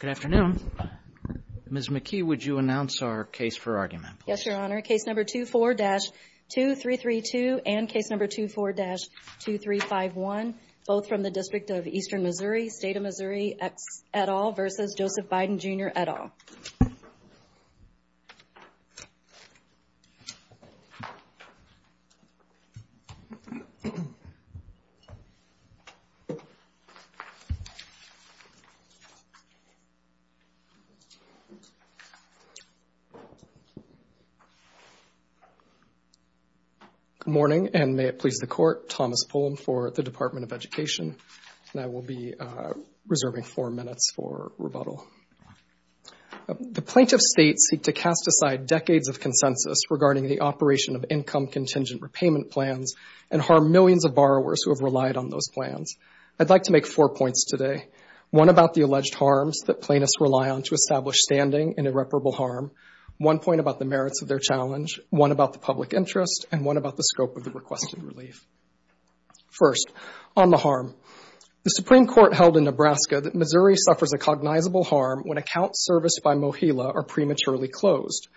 Good afternoon. Ms. McKee, would you announce our case for argument, please? Yes, Your Honor. Case number 24-2332 and case number 24-2351, both from the District of Eastern Missouri, State of Missouri, et al. v. Joseph Biden, Jr., et al. Good morning, and may it please the Court, Thomas Fulham for the Department of Education, and I will be reserving four minutes for rebuttal. The plaintiffs' states seek to cast aside decades of consensus regarding the operation of income-contingent repayment plans and harm millions of borrowers who have relied on those plans. I'd like to make four points today, one about the alleged harms that plaintiffs rely on to establish standing in irreparable harm, one point about the merits of their challenge, one about the public interest, and one about the scope of the requested relief. First, on the harm. The Supreme Court held in Nebraska that Missouri suffers a cognizable harm when accounts serviced by MoHELA are prematurely closed.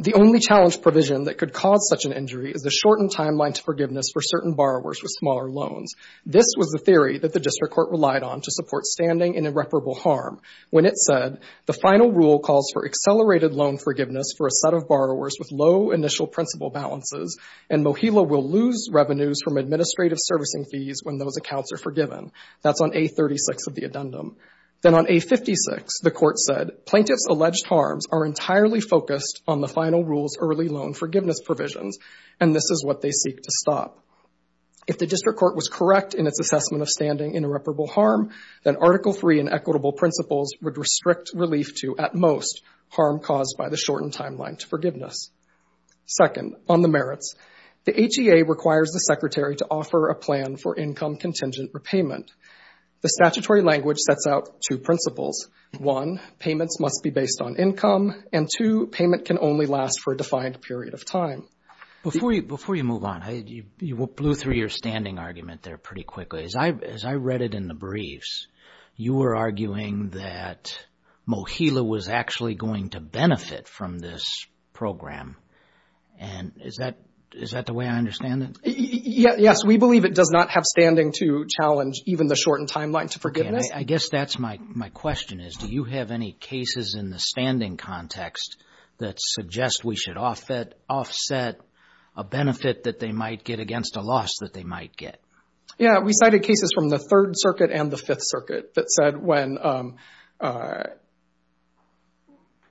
The only challenge provision that could cause such an injury is the shortened timeline to forgiveness for certain borrowers with smaller loans. This was the theory that the district court relied on to support standing in irreparable harm when it said, the final rule calls for accelerated loan forgiveness for a set of borrowers with low initial principal balances, and MoHELA will lose revenues from administrative servicing fees when those accounts are forgiven. That's on A36 of the addendum. Then on A56, the Court said, plaintiffs' alleged harms are entirely focused on the final rule's early loan forgiveness provisions, and this is what they seek to stop. If the district court was correct in its assessment of standing in irreparable harm, then Article III in equitable principles would restrict relief to, at most, harm caused by the shortened timeline to forgiveness. Second, on the merits. The HEA requires the secretary to offer a plan for income contingent repayment. The statutory language sets out two principles. One, payments must be based on income, and two, payment can only last for a defined period of time. Before you move on, you blew through your standing argument there pretty quickly. As I read it in the briefs, you were arguing that MoHELA was actually going to benefit from this program, and is that the way I understand it? Yes, we believe it does not have standing to challenge even the shortened timeline to forgiveness. I guess that's my question, is do you have any cases in the standing context that suggest we should offset a benefit that they might get against a loss that they might get? Yeah, we cited cases from the Third Circuit and the Fifth Circuit that said when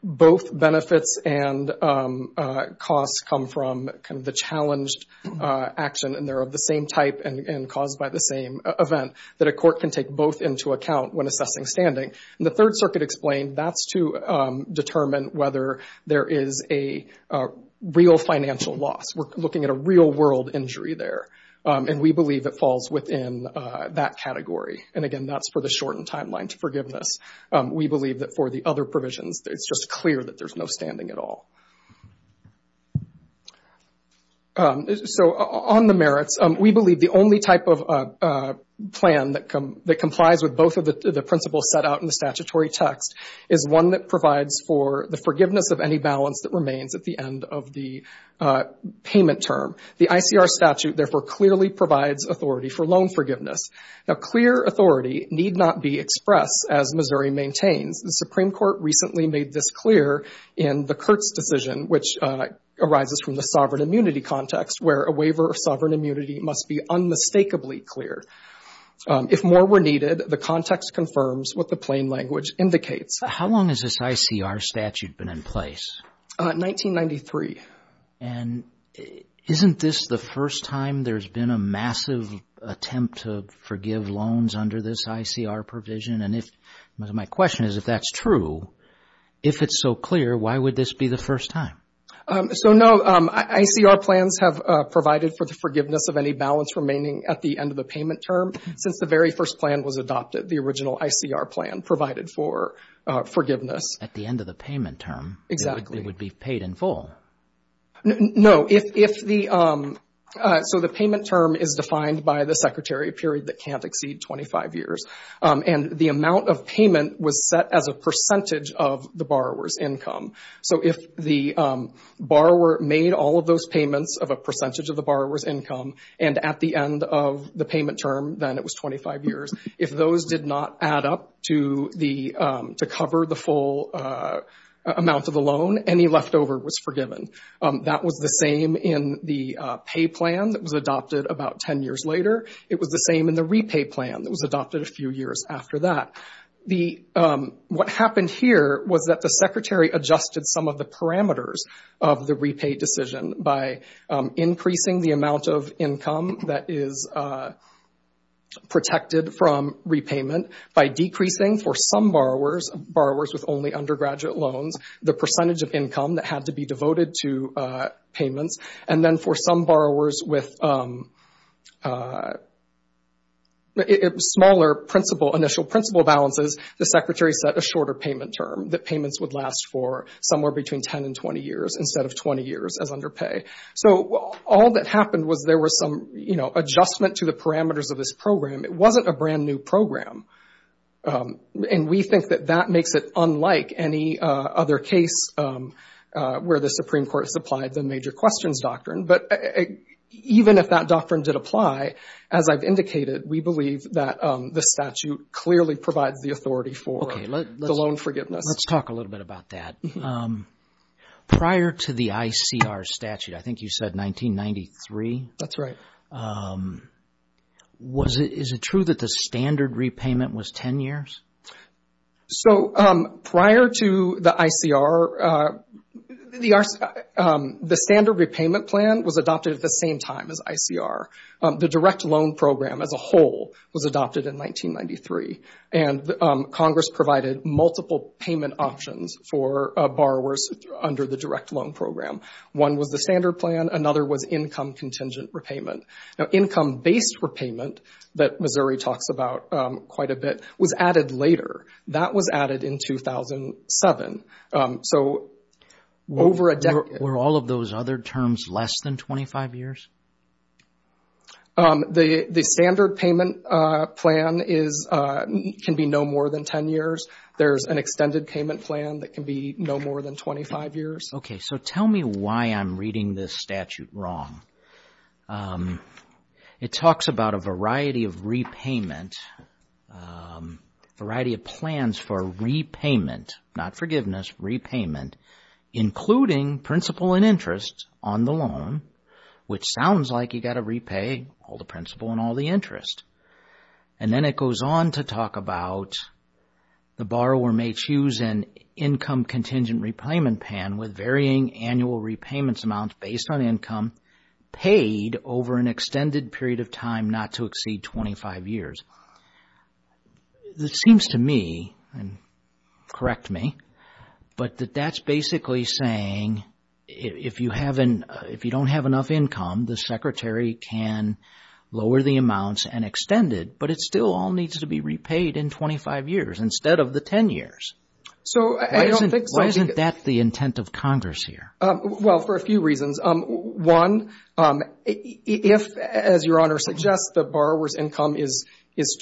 both benefits and costs come from the challenged action, and they're of the same type and caused by the same event, that a court can take both into account when assessing standing. And the Third Circuit explained that's to determine whether there is a real financial loss. We're looking at a real-world injury there, and we believe it falls within that category. And again, that's for the shortened timeline to forgiveness. We believe that for the other provisions, it's just clear that there's no standing at all. So on the merits, we believe the only type of plan that complies with both of the principles set out in the statutory text is one that provides for the forgiveness of any balance that remains at the end of the payment term. The ICR statute, therefore, clearly provides authority for loan forgiveness. Now, clear authority need not be expressed, as Missouri maintains. The Supreme Court recently made this clear in the Kurtz decision, which arises from the sovereign immunity context, where a waiver of sovereign immunity must be unmistakably clear. If more were needed, the context confirms what the plain language indicates. How long has this ICR statute been in place? 1993. And isn't this the first time there's been a massive attempt to forgive loans under this ICR provision? And my question is, if that's true, if it's so clear, why would this be the first time? So no, ICR plans have provided for the forgiveness of any balance remaining at the end of the payment term since the very first plan was adopted, the original ICR plan provided for forgiveness. At the end of the payment term? Exactly. It would be paid in full. No, if the... So the payment term is defined by the secretary, a period that can't exceed 25 years. And the amount of payment was set as a percentage of the borrower's income. So if the borrower made all of those payments of a percentage of the borrower's income, and at the end of the payment term, then it was 25 years, if those did not add up to cover the full amount of the loan, any leftover was forgiven. That was the same in the pay plan that was adopted about 10 years later. It was the same in the repay plan that was adopted a few years after that. What happened here was that the secretary adjusted some of the parameters of the repay decision by increasing the amount of income that is protected from repayment by decreasing for some borrowers, borrowers with only undergraduate loans, the percentage of income that had to be devoted to payments. And then for some borrowers with... smaller initial principal balances, the secretary set a shorter payment term that payments would last for somewhere between 10 and 20 years instead of 20 years as under pay. So all that happened was there was some, you know, adjustment to the parameters of this program. It wasn't a brand-new program. And we think that that makes it unlike any other case where the Supreme Court supplied the major questions doctrine. But even if that doctrine did apply, as I've indicated, we believe that the statute clearly provides the authority for the loan forgiveness. Let's talk a little bit about that. Prior to the ICR statute, I think you said 1993. That's right. Is it true that the standard repayment was 10 years? So prior to the ICR, the standard repayment plan was adopted at the same time as ICR. The direct loan program as a whole was adopted in 1993. And Congress provided multiple payment options for borrowers under the direct loan program. One was the standard plan. Another was income contingent repayment. Now, income-based repayment that Missouri talks about quite a bit was added later. That was added in 2007. So over a decade... Were all of those other terms less than 25 years? The standard payment plan can be no more than 10 years. There's an extended payment plan that can be no more than 25 years. Okay, so tell me why I'm reading this statute wrong. It talks about a variety of repayment, a variety of plans for repayment, not forgiveness, repayment, including principal and interest on the loan, which sounds like you've got to repay all the principal and all the interest. And then it goes on to talk about the borrower may choose an income contingent repayment plan with varying annual repayments amounts based on income paid over an extended period of time not to exceed 25 years. This seems to me, and correct me, but that that's basically saying if you don't have enough income, the secretary can lower the amounts and extend it, but it still all needs to be repaid in 25 years instead of the 10 years. Why isn't that the intent of Congress here? Well, for a few reasons. One, if, as Your Honor suggests, the borrower's income is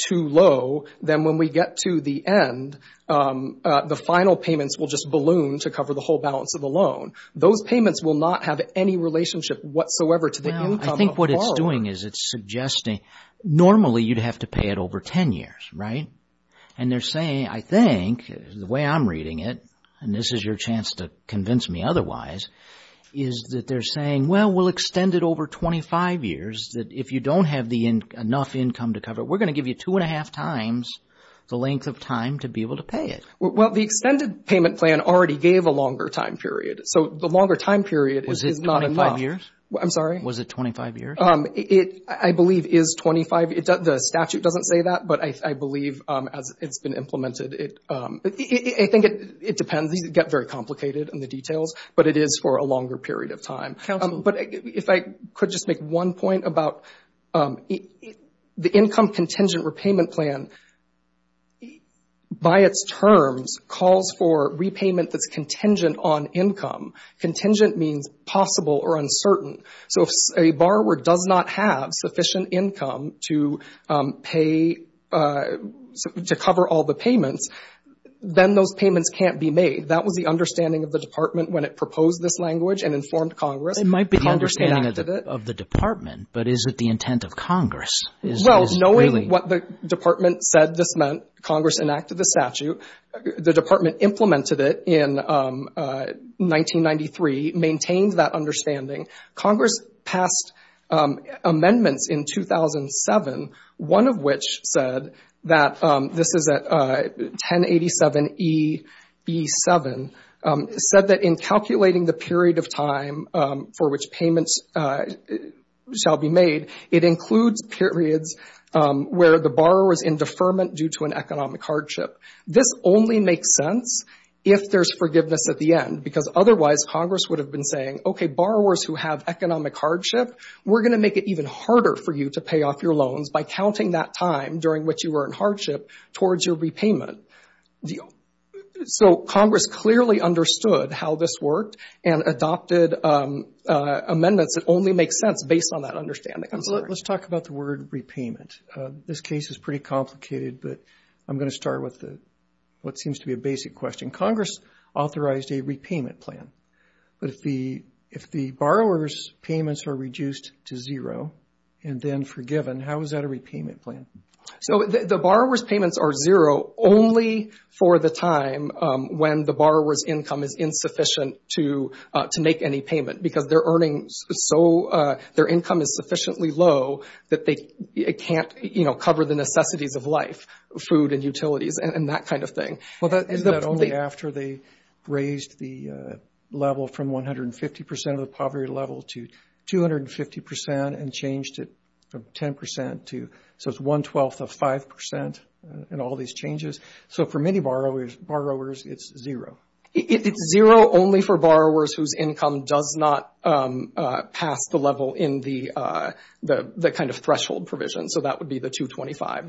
too low, then when we get to the end, the final payments will just balloon to cover the whole balance of the loan. Those payments will not have any relationship whatsoever to the income of the borrower. I think what it's doing is it's suggesting normally you'd have to pay it over 10 years, right? And they're saying, I think, the way I'm reading it, and this is your chance to convince me otherwise, is that they're saying, well, we'll extend it over 25 years, that if you don't have enough income to cover it, we're going to give you two and a half times the length of time to be able to pay it. Well, the extended payment plan already gave a longer time period, so the longer time period is not enough. Was it 25 years? I'm sorry? Was it 25 years? I believe it is 25. The statute doesn't say that, but I believe as it's been implemented, I think it depends. These get very complicated in the details, but it is for a longer period of time. But if I could just make one point about the income contingent repayment plan, by its terms, calls for repayment that's contingent on income. Contingent means possible or uncertain. So if a borrower does not have sufficient income to cover all the payments, then those payments can't be made. That was the understanding of the Department when it proposed this language and informed Congress. It might be the understanding of the Department, but is it the intent of Congress? Well, knowing what the Department said this meant, Congress enacted the statute. The Department implemented it in 1993, maintained that understanding. Congress passed amendments in 2007, one of which said that this is 1087EB7, said that in calculating the period of time for which payments shall be made, it includes periods where the borrower is in deferment due to an economic hardship. This only makes sense if there's forgiveness at the end, because otherwise Congress would have been saying, okay, borrowers who have economic hardship, we're going to make it even harder for you to pay off your loans by counting that time during which you were in hardship towards your repayment. So Congress clearly understood how this worked and adopted amendments that only make sense based on that understanding. Let's talk about the word repayment. This case is pretty complicated, but I'm going to start with what seems to be a basic question. Congress authorized a repayment plan, but if the borrower's payments are reduced to zero and then forgiven, how is that a repayment plan? So the borrower's payments are zero only for the time when the borrower's income is insufficient to make any payment, because their income is sufficiently low that they can't cover the necessities of life, food and utilities and that kind of thing. Isn't that only after they raised the level from 150% of the poverty level to 250% and changed it from 10% to 112th of 5% and all these changes? So for many borrowers, it's zero. It's zero only for borrowers whose income does not pass the level in the kind of threshold provision, so that would be the 225.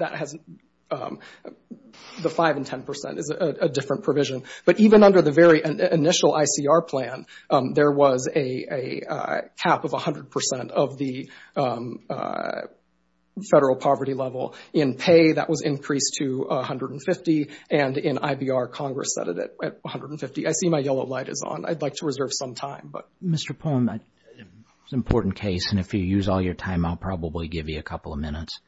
The 5% and 10% is a different provision. But even under the very initial ICR plan, there was a cap of 100% of the federal poverty level. In pay, that was increased to 150, and in IBR, Congress set it at 150. I see my yellow light is on. I'd like to reserve some time. Mr. Pohn, it's an important case, and if you use all your time, I'll probably give you a couple of minutes.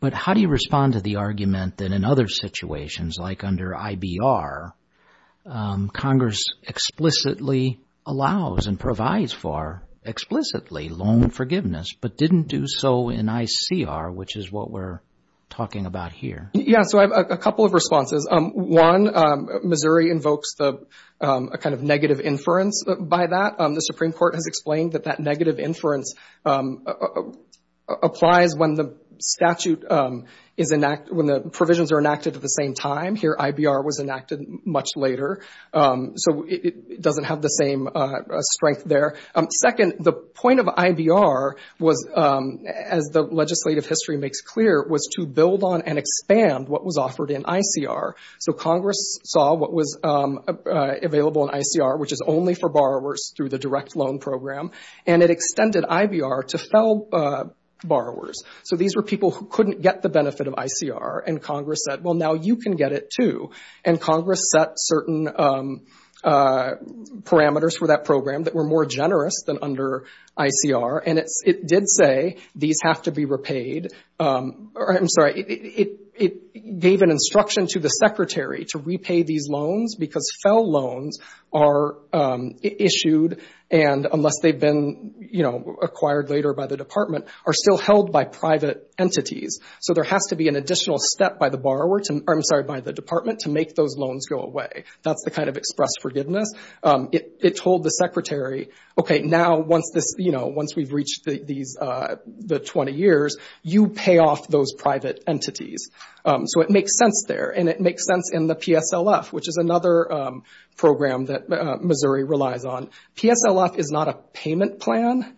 But how do you respond to the argument that in other situations, like under IBR, Congress explicitly allows and provides for explicitly loan forgiveness, but didn't do so in ICR, which is what we're talking about here? Yeah, so I have a couple of responses. One, Missouri invokes a kind of negative inference by that. The Supreme Court has explained that that negative inference applies when the provisions are enacted at the same time. Here, IBR was enacted much later, so it doesn't have the same strength there. Second, the point of IBR was, as the legislative history makes clear, was to build on and expand what was offered in ICR. So Congress saw what was available in ICR, which is only for borrowers through the direct loan program, and it extended IBR to fell borrowers. So these were people who couldn't get the benefit of ICR, and Congress said, well, now you can get it, too. And Congress set certain parameters for that program that were more generous than under ICR, and it did say these have to be repaid. I'm sorry, it gave an instruction to the secretary to repay these loans because fell loans are issued, and unless they've been acquired later by the department, are still held by private entities. So there has to be an additional step by the department to make those loans go away. That's the kind of express forgiveness. It told the secretary, okay, now once we've reached the 20 years, you pay off those private entities. So it makes sense there, and it makes sense in the PSLF, which is another program that Missouri relies on. PSLF is not a payment plan.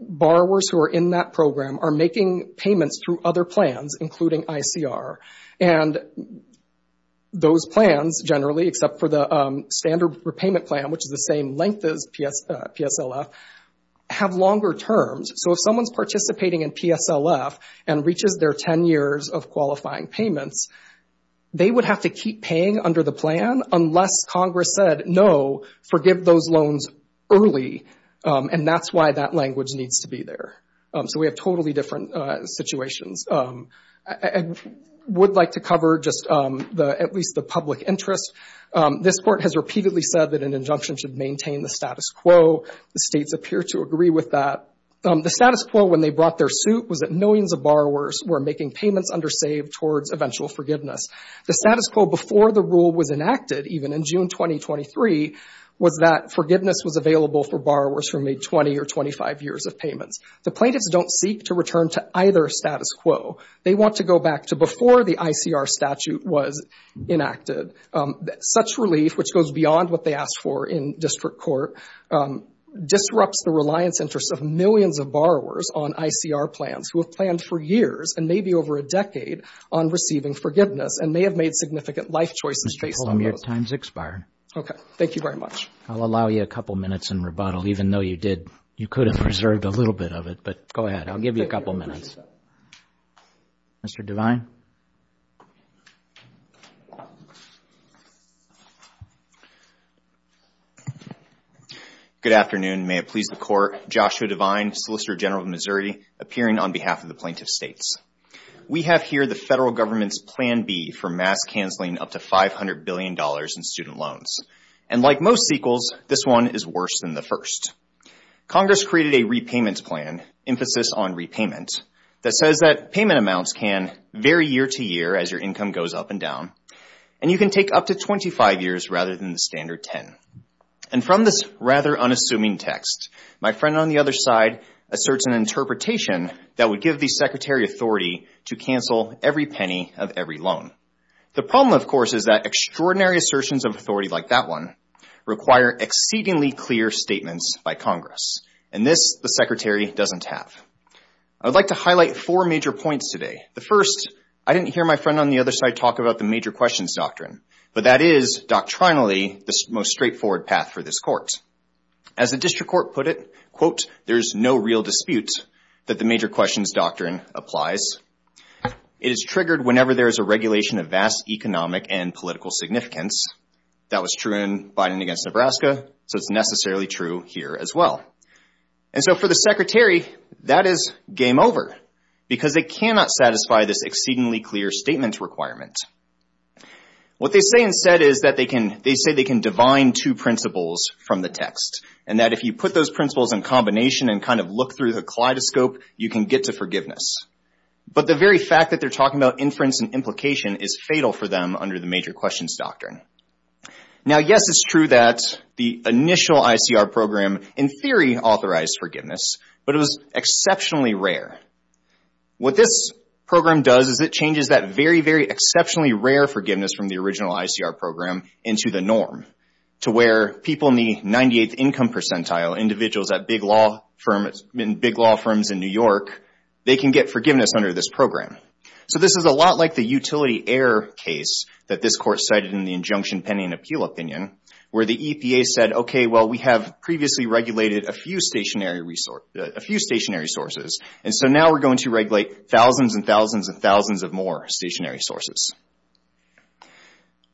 Borrowers who are in that program are making payments through other plans, including ICR. And those plans, generally, except for the standard repayment plan, which is the same length as PSLF, have longer terms. So if someone's participating in PSLF and reaches their 10 years of qualifying payments, they would have to keep paying under the plan unless Congress said, no, forgive those loans early, and that's why that language needs to be there. So we have totally different situations. I would like to cover just at least the public interest. This Court has repeatedly said that an injunction should maintain the status quo. The states appear to agree with that. The status quo when they brought their suit was that millions of borrowers were making payments under save towards eventual forgiveness. The status quo before the rule was enacted, even in June 2023, was that forgiveness was available for borrowers who made 20 or 25 years of payments. The plaintiffs don't seek to return to either status quo. They want to go back to before the ICR statute was enacted. Such relief, which goes beyond what they asked for in district court, disrupts the reliance interests of millions of borrowers on ICR plans who have planned for years and maybe over a decade on receiving forgiveness and may have made significant life choices based on those. Mr. Polam, your time's expired. Okay. Thank you very much. I'll allow you a couple minutes in rebuttal, even though you could have preserved a little bit of it. But go ahead. I'll give you a couple minutes. Mr. Devine? Good afternoon. May it please the Court. Joshua Devine, Solicitor General of Missouri, appearing on behalf of the plaintiff states. We have here the federal government's Plan B for mass canceling up to $500 billion in student loans. And like most sequels, this one is worse than the first. Congress created a repayment plan, emphasis on repayment, that says that payment amounts can vary year to year as your income goes up and down, and you can take up to 25 years rather than the standard 10. And from this rather unassuming text, my friend on the other side asserts an interpretation that would give the Secretary authority to cancel every penny of every loan. The problem, of course, is that extraordinary assertions of authority like that one require exceedingly clear statements by Congress, and this the Secretary doesn't have. I would like to highlight four major points today. The first, I didn't hear my friend on the other side talk about the major questions doctrine, but that is doctrinally the most straightforward path for this Court. As the district court put it, quote, there is no real dispute that the major questions doctrine applies. It is triggered whenever there is a regulation of vast economic and political significance. That was true in Biden against Nebraska, so it's necessarily true here as well. And so for the Secretary, that is game over, because they cannot satisfy this exceedingly clear statement requirement. What they say instead is that they can, they say they can divine two principles from the text, and that if you put those principles in combination and kind of look through the kaleidoscope, you can get to forgiveness. But the very fact that they're talking about inference and implication is fatal for them under the major questions doctrine. Now, yes, it's true that the initial ICR program in theory authorized forgiveness, but it was exceptionally rare. What this program does is it changes that very, very exceptionally rare forgiveness from the original ICR program into the norm, to where people in the 98th income percentile, individuals at big law firms in New York, they can get forgiveness under this program. So this is a lot like the utility error case that this court cited in the injunction pending appeal opinion, where the EPA said, okay, well, we have previously regulated a few stationary sources, and so now we're going to regulate thousands and thousands and thousands of more stationary sources.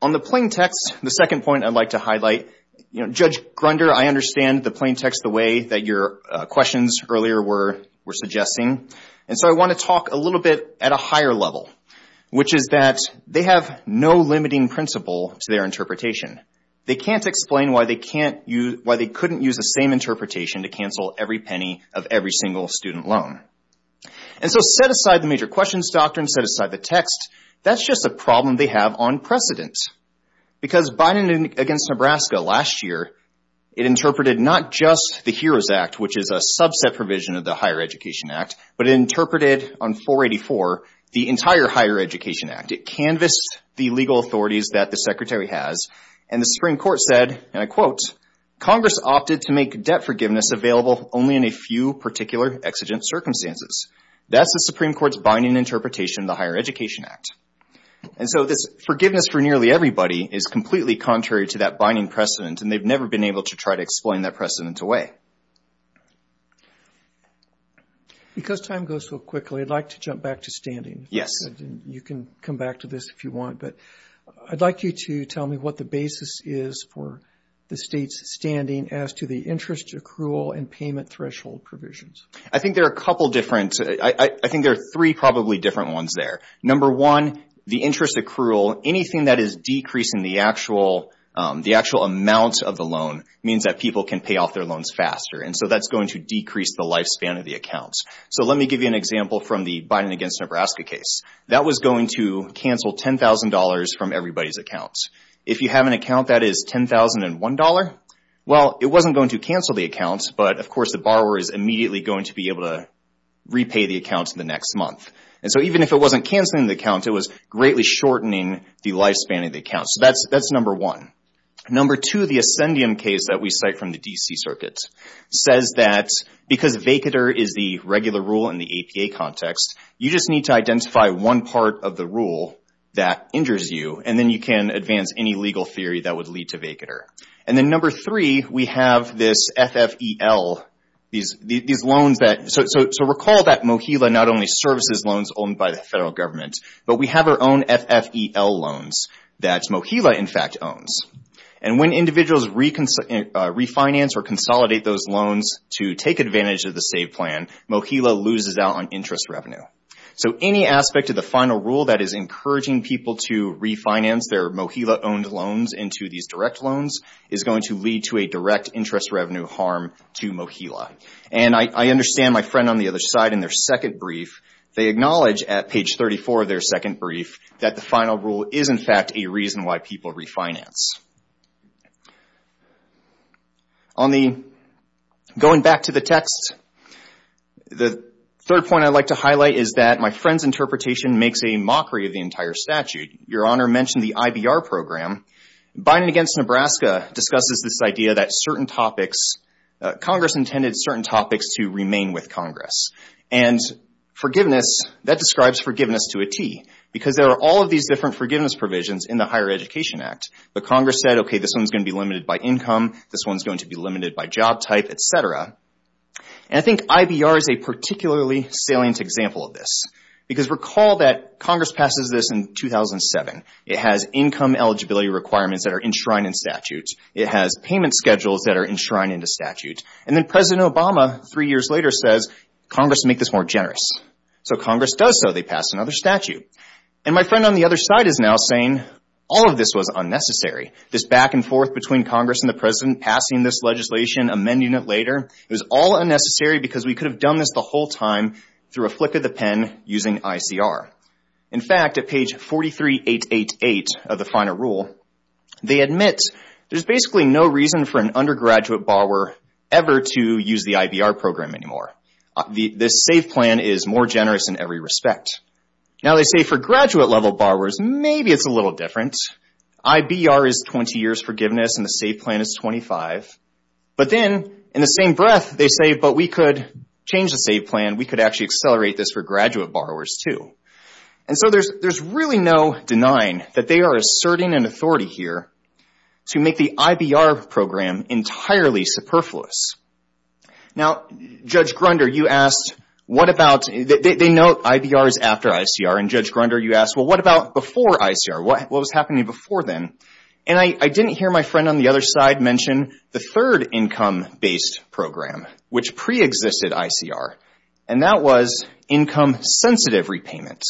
On the plain text, the second point I'd like to highlight, Judge Grunder, I understand the plain text the way that your questions earlier were suggesting, and so I want to talk a little bit at a higher level, which is that they have no limiting principle to their interpretation. They can't explain why they can't use, why they couldn't use the same interpretation to cancel every penny of every single student loan. And so set aside the major questions doctrine, set aside the text, that's just a problem they have on precedent, because Biden against Nebraska last year, it interpreted not just the HEROES Act, which is a subset provision of the Higher Education Act, but it interpreted on 484 the entire Higher Education Act. It canvassed the legal authorities that the Secretary has, and the Supreme Court said, and I quote, Congress opted to make debt forgiveness available only in a few particular exigent circumstances. That's the Supreme Court's binding interpretation of the Higher Education Act. And so this forgiveness for nearly everybody is completely contrary to that binding precedent, and they've never been able to try to explain that precedent away. Because time goes so quickly, I'd like to jump back to standing. Yes. You can come back to this if you want, but I'd like you to tell me what the basis is for the state's standing as to the interest accrual and payment threshold provisions. I think there are a couple different, I think there are three probably different ones there. Number one, the interest accrual, anything that is decreasing the actual amount of the loan means that people can pay off their loans faster, and so that's going to decrease the lifespan of the accounts. So let me give you an example from the Biden against Nebraska case. That was going to cancel $10,000 from everybody's accounts. If you have an account that is $10,001, well, it wasn't going to cancel the account, but of course the borrower is immediately going to be able to repay the account in the next month. And so even if it wasn't canceling the account, it was greatly shortening the lifespan of the account. So that's number one. Number two, the Ascendium case that we cite from the D.C. Circuit says that because vacater is the regular rule in the APA context, you just need to identify one part of the rule that injures you, and then you can advance any legal theory that would lead to vacater. And then number three, we have this FFEL, these loans that... So recall that Mohila not only services loans owned by the federal government, but we have our own FFEL loans that Mohila in fact owns. And when individuals refinance or consolidate those loans to take advantage of the SAVE plan, Mohila loses out on interest revenue. So any aspect of the final rule that is encouraging people to refinance their Mohila-owned loans into these direct loans is going to lead to a direct interest revenue harm to Mohila. And I understand my friend on the other side in their second brief, they acknowledge at page 34 of their second brief that the final rule is in fact a reason why people refinance. Going back to the text, the third point I'd like to highlight is that my friend's interpretation makes a mockery of the entire statute. Your Honor mentioned the IBR program. Biden against Nebraska discusses this idea that certain topics... Congress intended certain topics to remain with Congress. And forgiveness, that describes forgiveness to a T because there are all of these different forgiveness provisions in the Higher Education Act. But Congress said, okay, this one's going to be limited by income, this one's going to be limited by job type, et cetera. And I think IBR is a particularly salient example of this because recall that Congress passes this in 2007. It has income eligibility requirements that are enshrined in statute. It has payment schedules that are enshrined in the statute. And then President Obama three years later says, Congress will make this more generous. So Congress does so, they pass another statute. And my friend on the other side is now saying, all of this was unnecessary. This back and forth between Congress and the President passing this legislation, amending it later, it was all unnecessary because we could have done this the whole time through a flick of the pen using ICR. In fact, at page 43888 of the final rule, they admit there's basically no reason for an undergraduate borrower ever to use the IBR program anymore. This SAVE plan is more generous in every respect. Now they say for graduate-level borrowers, maybe it's a little different. IBR is 20 years forgiveness and the SAVE plan is 25. But then in the same breath, they say, but we could change the SAVE plan. We could actually accelerate this for graduate borrowers too. And so there's really no denying that they are asserting an authority here to make the IBR program entirely superfluous. Now, Judge Grunder, you asked, what about, they note IBR is after ICR, and Judge Grunder, you asked, well, what about before ICR? What was happening before then? And I didn't hear my friend on the other side mention the third income-based program, which preexisted ICR. And that was income-sensitive repayment.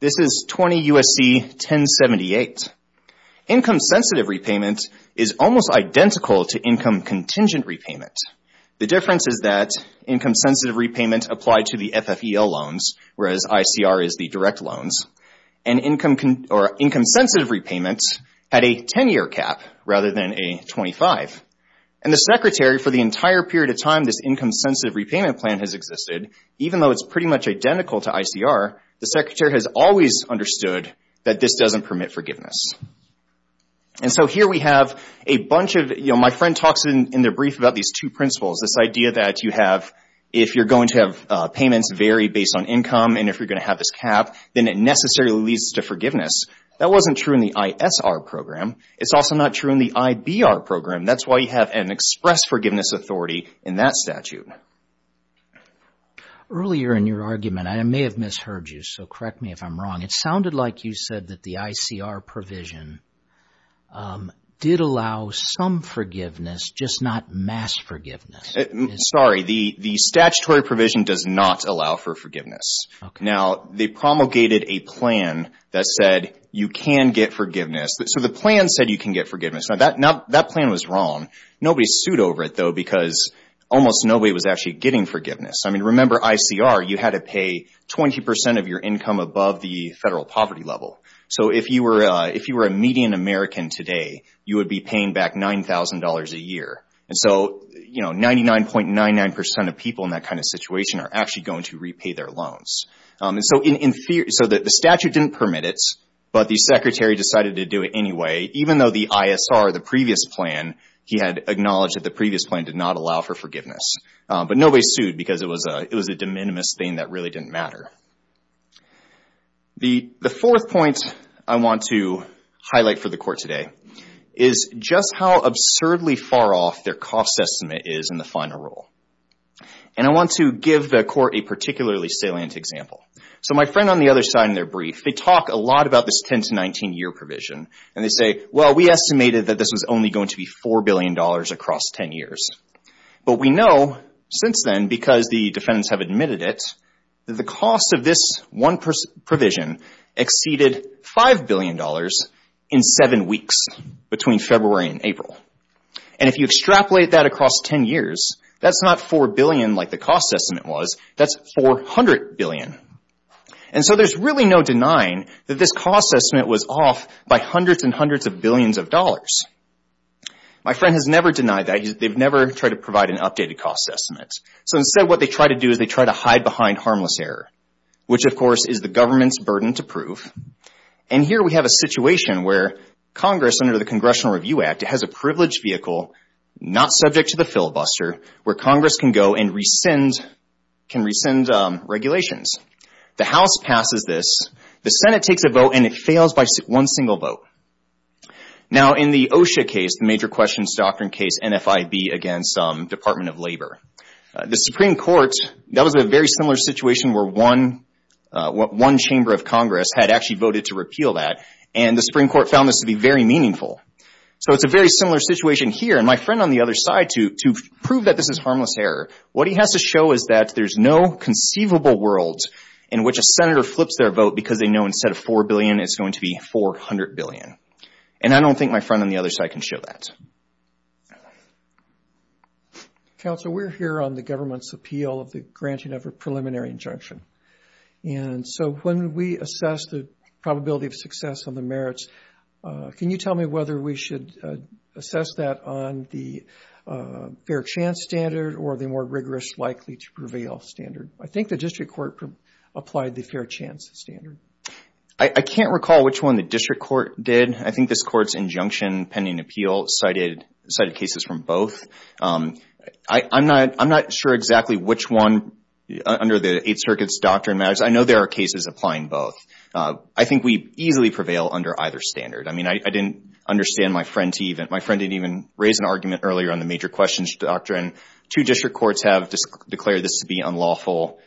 This is 20 U.S.C. 1078. Income-sensitive repayment is almost identical to income-contingent repayment. The difference is that income-sensitive repayment applied to the FFEL loans, whereas ICR is the direct loans. And income-sensitive repayment had a 10-year cap rather than a 25. And the Secretary, for the entire period of time, this income-sensitive repayment plan has existed, even though it's pretty much identical to ICR, the Secretary has always understood that this doesn't permit forgiveness. And so here we have a bunch of, you know, my friend talks in the brief about these two principles, this idea that you have, if you're going to have payments vary based on income and if you're going to have this cap, then it necessarily leads to forgiveness. That wasn't true in the ISR program. It's also not true in the IBR program. That's why you have an express forgiveness authority in that statute. Earlier in your argument, I may have misheard you, so correct me if I'm wrong, it sounded like you said that the ICR provision did allow some forgiveness, just not mass forgiveness. Sorry, the statutory provision does not allow for forgiveness. Now, they promulgated a plan that said you can get forgiveness. So the plan said you can get forgiveness. Now, that plan was wrong. Nobody sued over it, though, because almost nobody was actually getting forgiveness. I mean, remember ICR, you had to pay 20% of your income above the federal poverty level. So if you were a median American today, you would be paying back $9,000 a year. And so, you know, 99.99% of people in that kind of situation are actually going to repay their loans. So the statute didn't permit it, but the Secretary decided to do it anyway, even though the ISR, the previous plan, he had acknowledged that the previous plan did not allow for forgiveness. But nobody sued because it was a de minimis thing that really didn't matter. The fourth point I want to highlight for the Court today is just how absurdly far off their cost estimate is in the final rule. And I want to give the Court a particularly salient example. So my friend on the other side in their brief, they talk a lot about this 10 to 19 year provision, and they say, well, we estimated that this was only going to be $4 billion across 10 years. But we know since then, because the defendants have admitted it, that the cost of this one provision exceeded $5 billion in seven weeks between February and April. And if you extrapolate that across 10 years, that's not $4 billion like the cost estimate was. That's $400 billion. And so there's really no denying that this cost estimate was off by hundreds and hundreds of billions of dollars. My friend has never denied that. They've never tried to provide an updated cost estimate. So instead, what they try to do is they try to hide behind harmless error, which, of course, is the government's burden to prove. And here we have a situation where Congress, under the Congressional Review Act, has a privileged vehicle, not subject to the filibuster, where Congress can go and rescind regulations. The House passes this. The Senate takes a vote, and it fails by one single vote. Now, in the OSHA case, the Major Questions Doctrine case, NFIB against Department of Labor, the Supreme Court, that was a very similar situation where one chamber of Congress had actually voted to repeal that, and the Supreme Court found this to be very meaningful. So it's a very similar situation here. And my friend on the other side, to prove that this is harmless error, what he has to show is that there's no conceivable world in which a senator flips their vote because they know instead of $4 billion, it's going to be $400 billion. And I don't think my friend on the other side can show that. Counsel, we're here on the government's appeal of the granting of a preliminary injunction. And so when we assess the probability of success on the merits, can you tell me whether we should assess that on the fair chance standard or the more rigorous likely to prevail standard? I think the district court applied the fair chance standard. I can't recall which one the district court did. I think this court's injunction pending appeal cited cases from both. I'm not sure exactly which one under the Eighth Circuit's doctrine matters. I know there are cases applying both. I think we easily prevail under either standard. I mean, I didn't understand my friend to even – my friend didn't even raise an argument earlier on the major questions doctrine. Two district courts have declared this to be unlawful.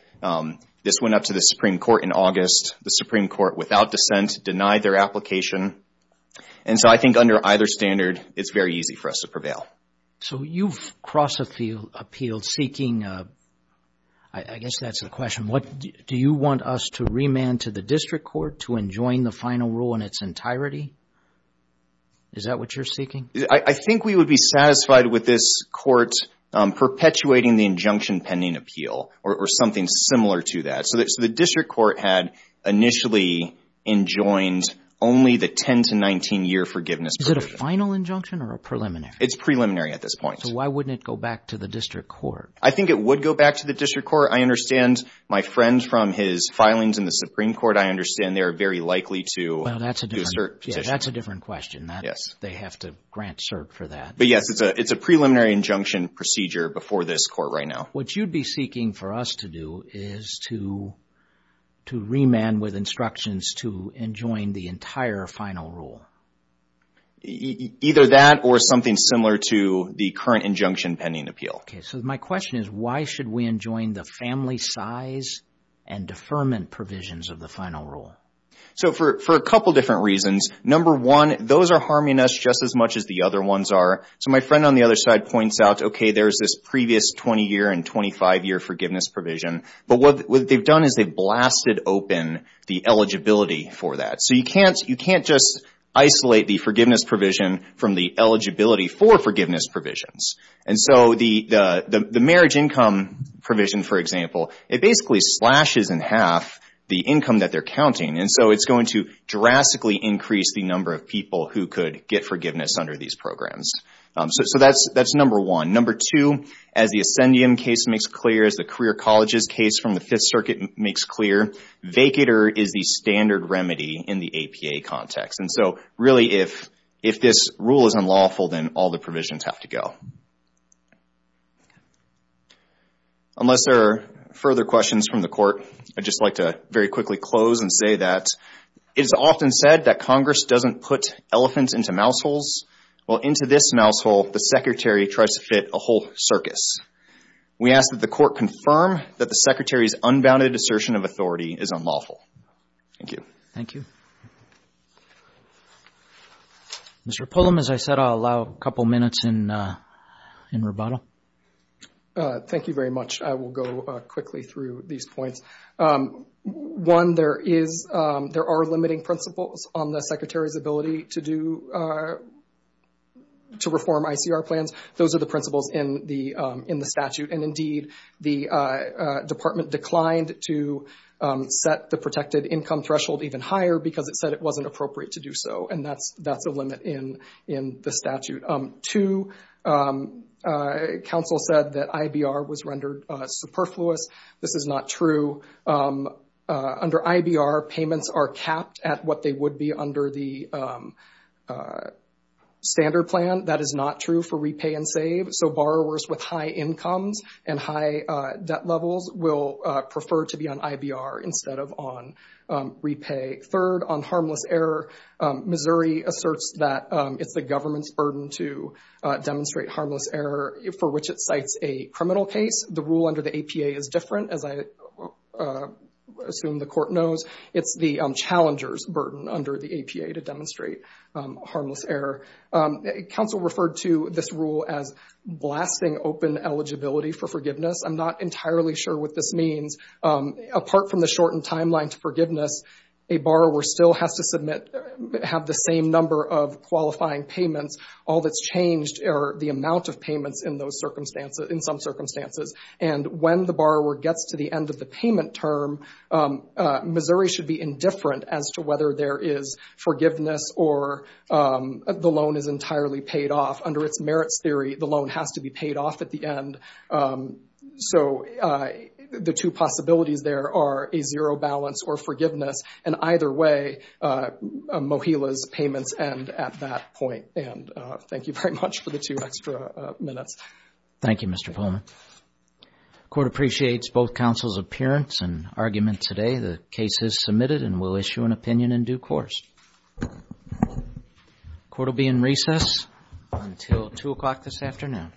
This went up to the Supreme Court in August. The Supreme Court, without dissent, denied their application. And so I think under either standard, it's very easy for us to prevail. So you've crossed a field seeking – I guess that's the question. Do you want us to remand to the district court to enjoin the final rule in its entirety? Is that what you're seeking? I think we would be satisfied with this court perpetuating the injunction pending appeal or something similar to that. So the district court had initially enjoined only the 10- to 19-year forgiveness provision. Is it a final injunction or a preliminary? It's preliminary at this point. So why wouldn't it go back to the district court? I think it would go back to the district court. I understand my friend from his filings in the Supreme Court, I understand they are very likely to assert petition. Well, that's a different question. They have to grant cert for that. But yes, it's a preliminary injunction procedure before this court right now. What you'd be seeking for us to do is to remand with instructions to enjoin the entire final rule. Either that or something similar to the current injunction pending appeal. Okay. So my question is why should we enjoin the family size and deferment provisions of the final rule? So for a couple different reasons. Number one, those are harming us just as much as the other ones are. So my friend on the other side points out, okay, there's this previous 20-year and 25-year forgiveness provision. But what they've done is they've blasted open the eligibility for that. So you can't just isolate the forgiveness provision from the eligibility for forgiveness provisions. And so the marriage income provision, for example, it basically slashes in half the income that they're counting. And so it's going to drastically increase the number of people who could get forgiveness under these programs. So that's number one. Number two, as the Ascendium case makes clear, as the Career Colleges case from the Fifth Circuit makes clear, vacater is the standard remedy in the APA context. And so really if this rule is unlawful, then all the provisions have to go. Unless there are further questions from the Court, I'd just like to very quickly close and say that it is often said that Congress doesn't put elephants into mouse holes. Well, into this mouse hole, the Secretary tries to fit a whole circus. We ask that the Court confirm that the Secretary's unbounded assertion of authority is unlawful. Thank you. Thank you. Mr. Pullum, as I said, I'll allow a couple minutes in rebuttal. Thank you very much. I will go quickly through these points. One, there are limiting principles on the Secretary's ability to reform ICR plans. Those are the principles in the statute. And indeed, the Department declined to set the protected income threshold even higher because it said it wasn't appropriate to do so. And that's a limit in the statute. Two, counsel said that IBR was rendered superfluous. This is not true. Under IBR, payments are capped at what they would be under the standard plan. That is not true for repay and save. So borrowers with high incomes and high debt levels will prefer to be on IBR instead of on repay. Third, on harmless error, Missouri asserts that it's the government's burden to demonstrate harmless error, for which it cites a criminal case. The rule under the APA is different, as I assume the Court knows. It's the challenger's burden under the APA to demonstrate harmless error. Counsel referred to this rule as blasting open eligibility for forgiveness. I'm not entirely sure what this means. Apart from the shortened timeline to forgiveness, a borrower still has to submit, have the same number of qualifying payments. All that's changed are the amount of payments in some circumstances. And when the borrower gets to the end of the payment term, Missouri should be indifferent as to whether there is forgiveness or the loan is entirely paid off. Under its merits theory, the loan has to be paid off at the end. So the two possibilities there are a zero balance or forgiveness, and either way, MoHELA's payments end at that point. And thank you very much for the two extra minutes. Thank you, Mr. Pullman. The Court appreciates both counsel's appearance and argument today. The case is submitted and we'll issue an opinion in due course. The Court will be in recess until 2 o'clock this afternoon. Thank you.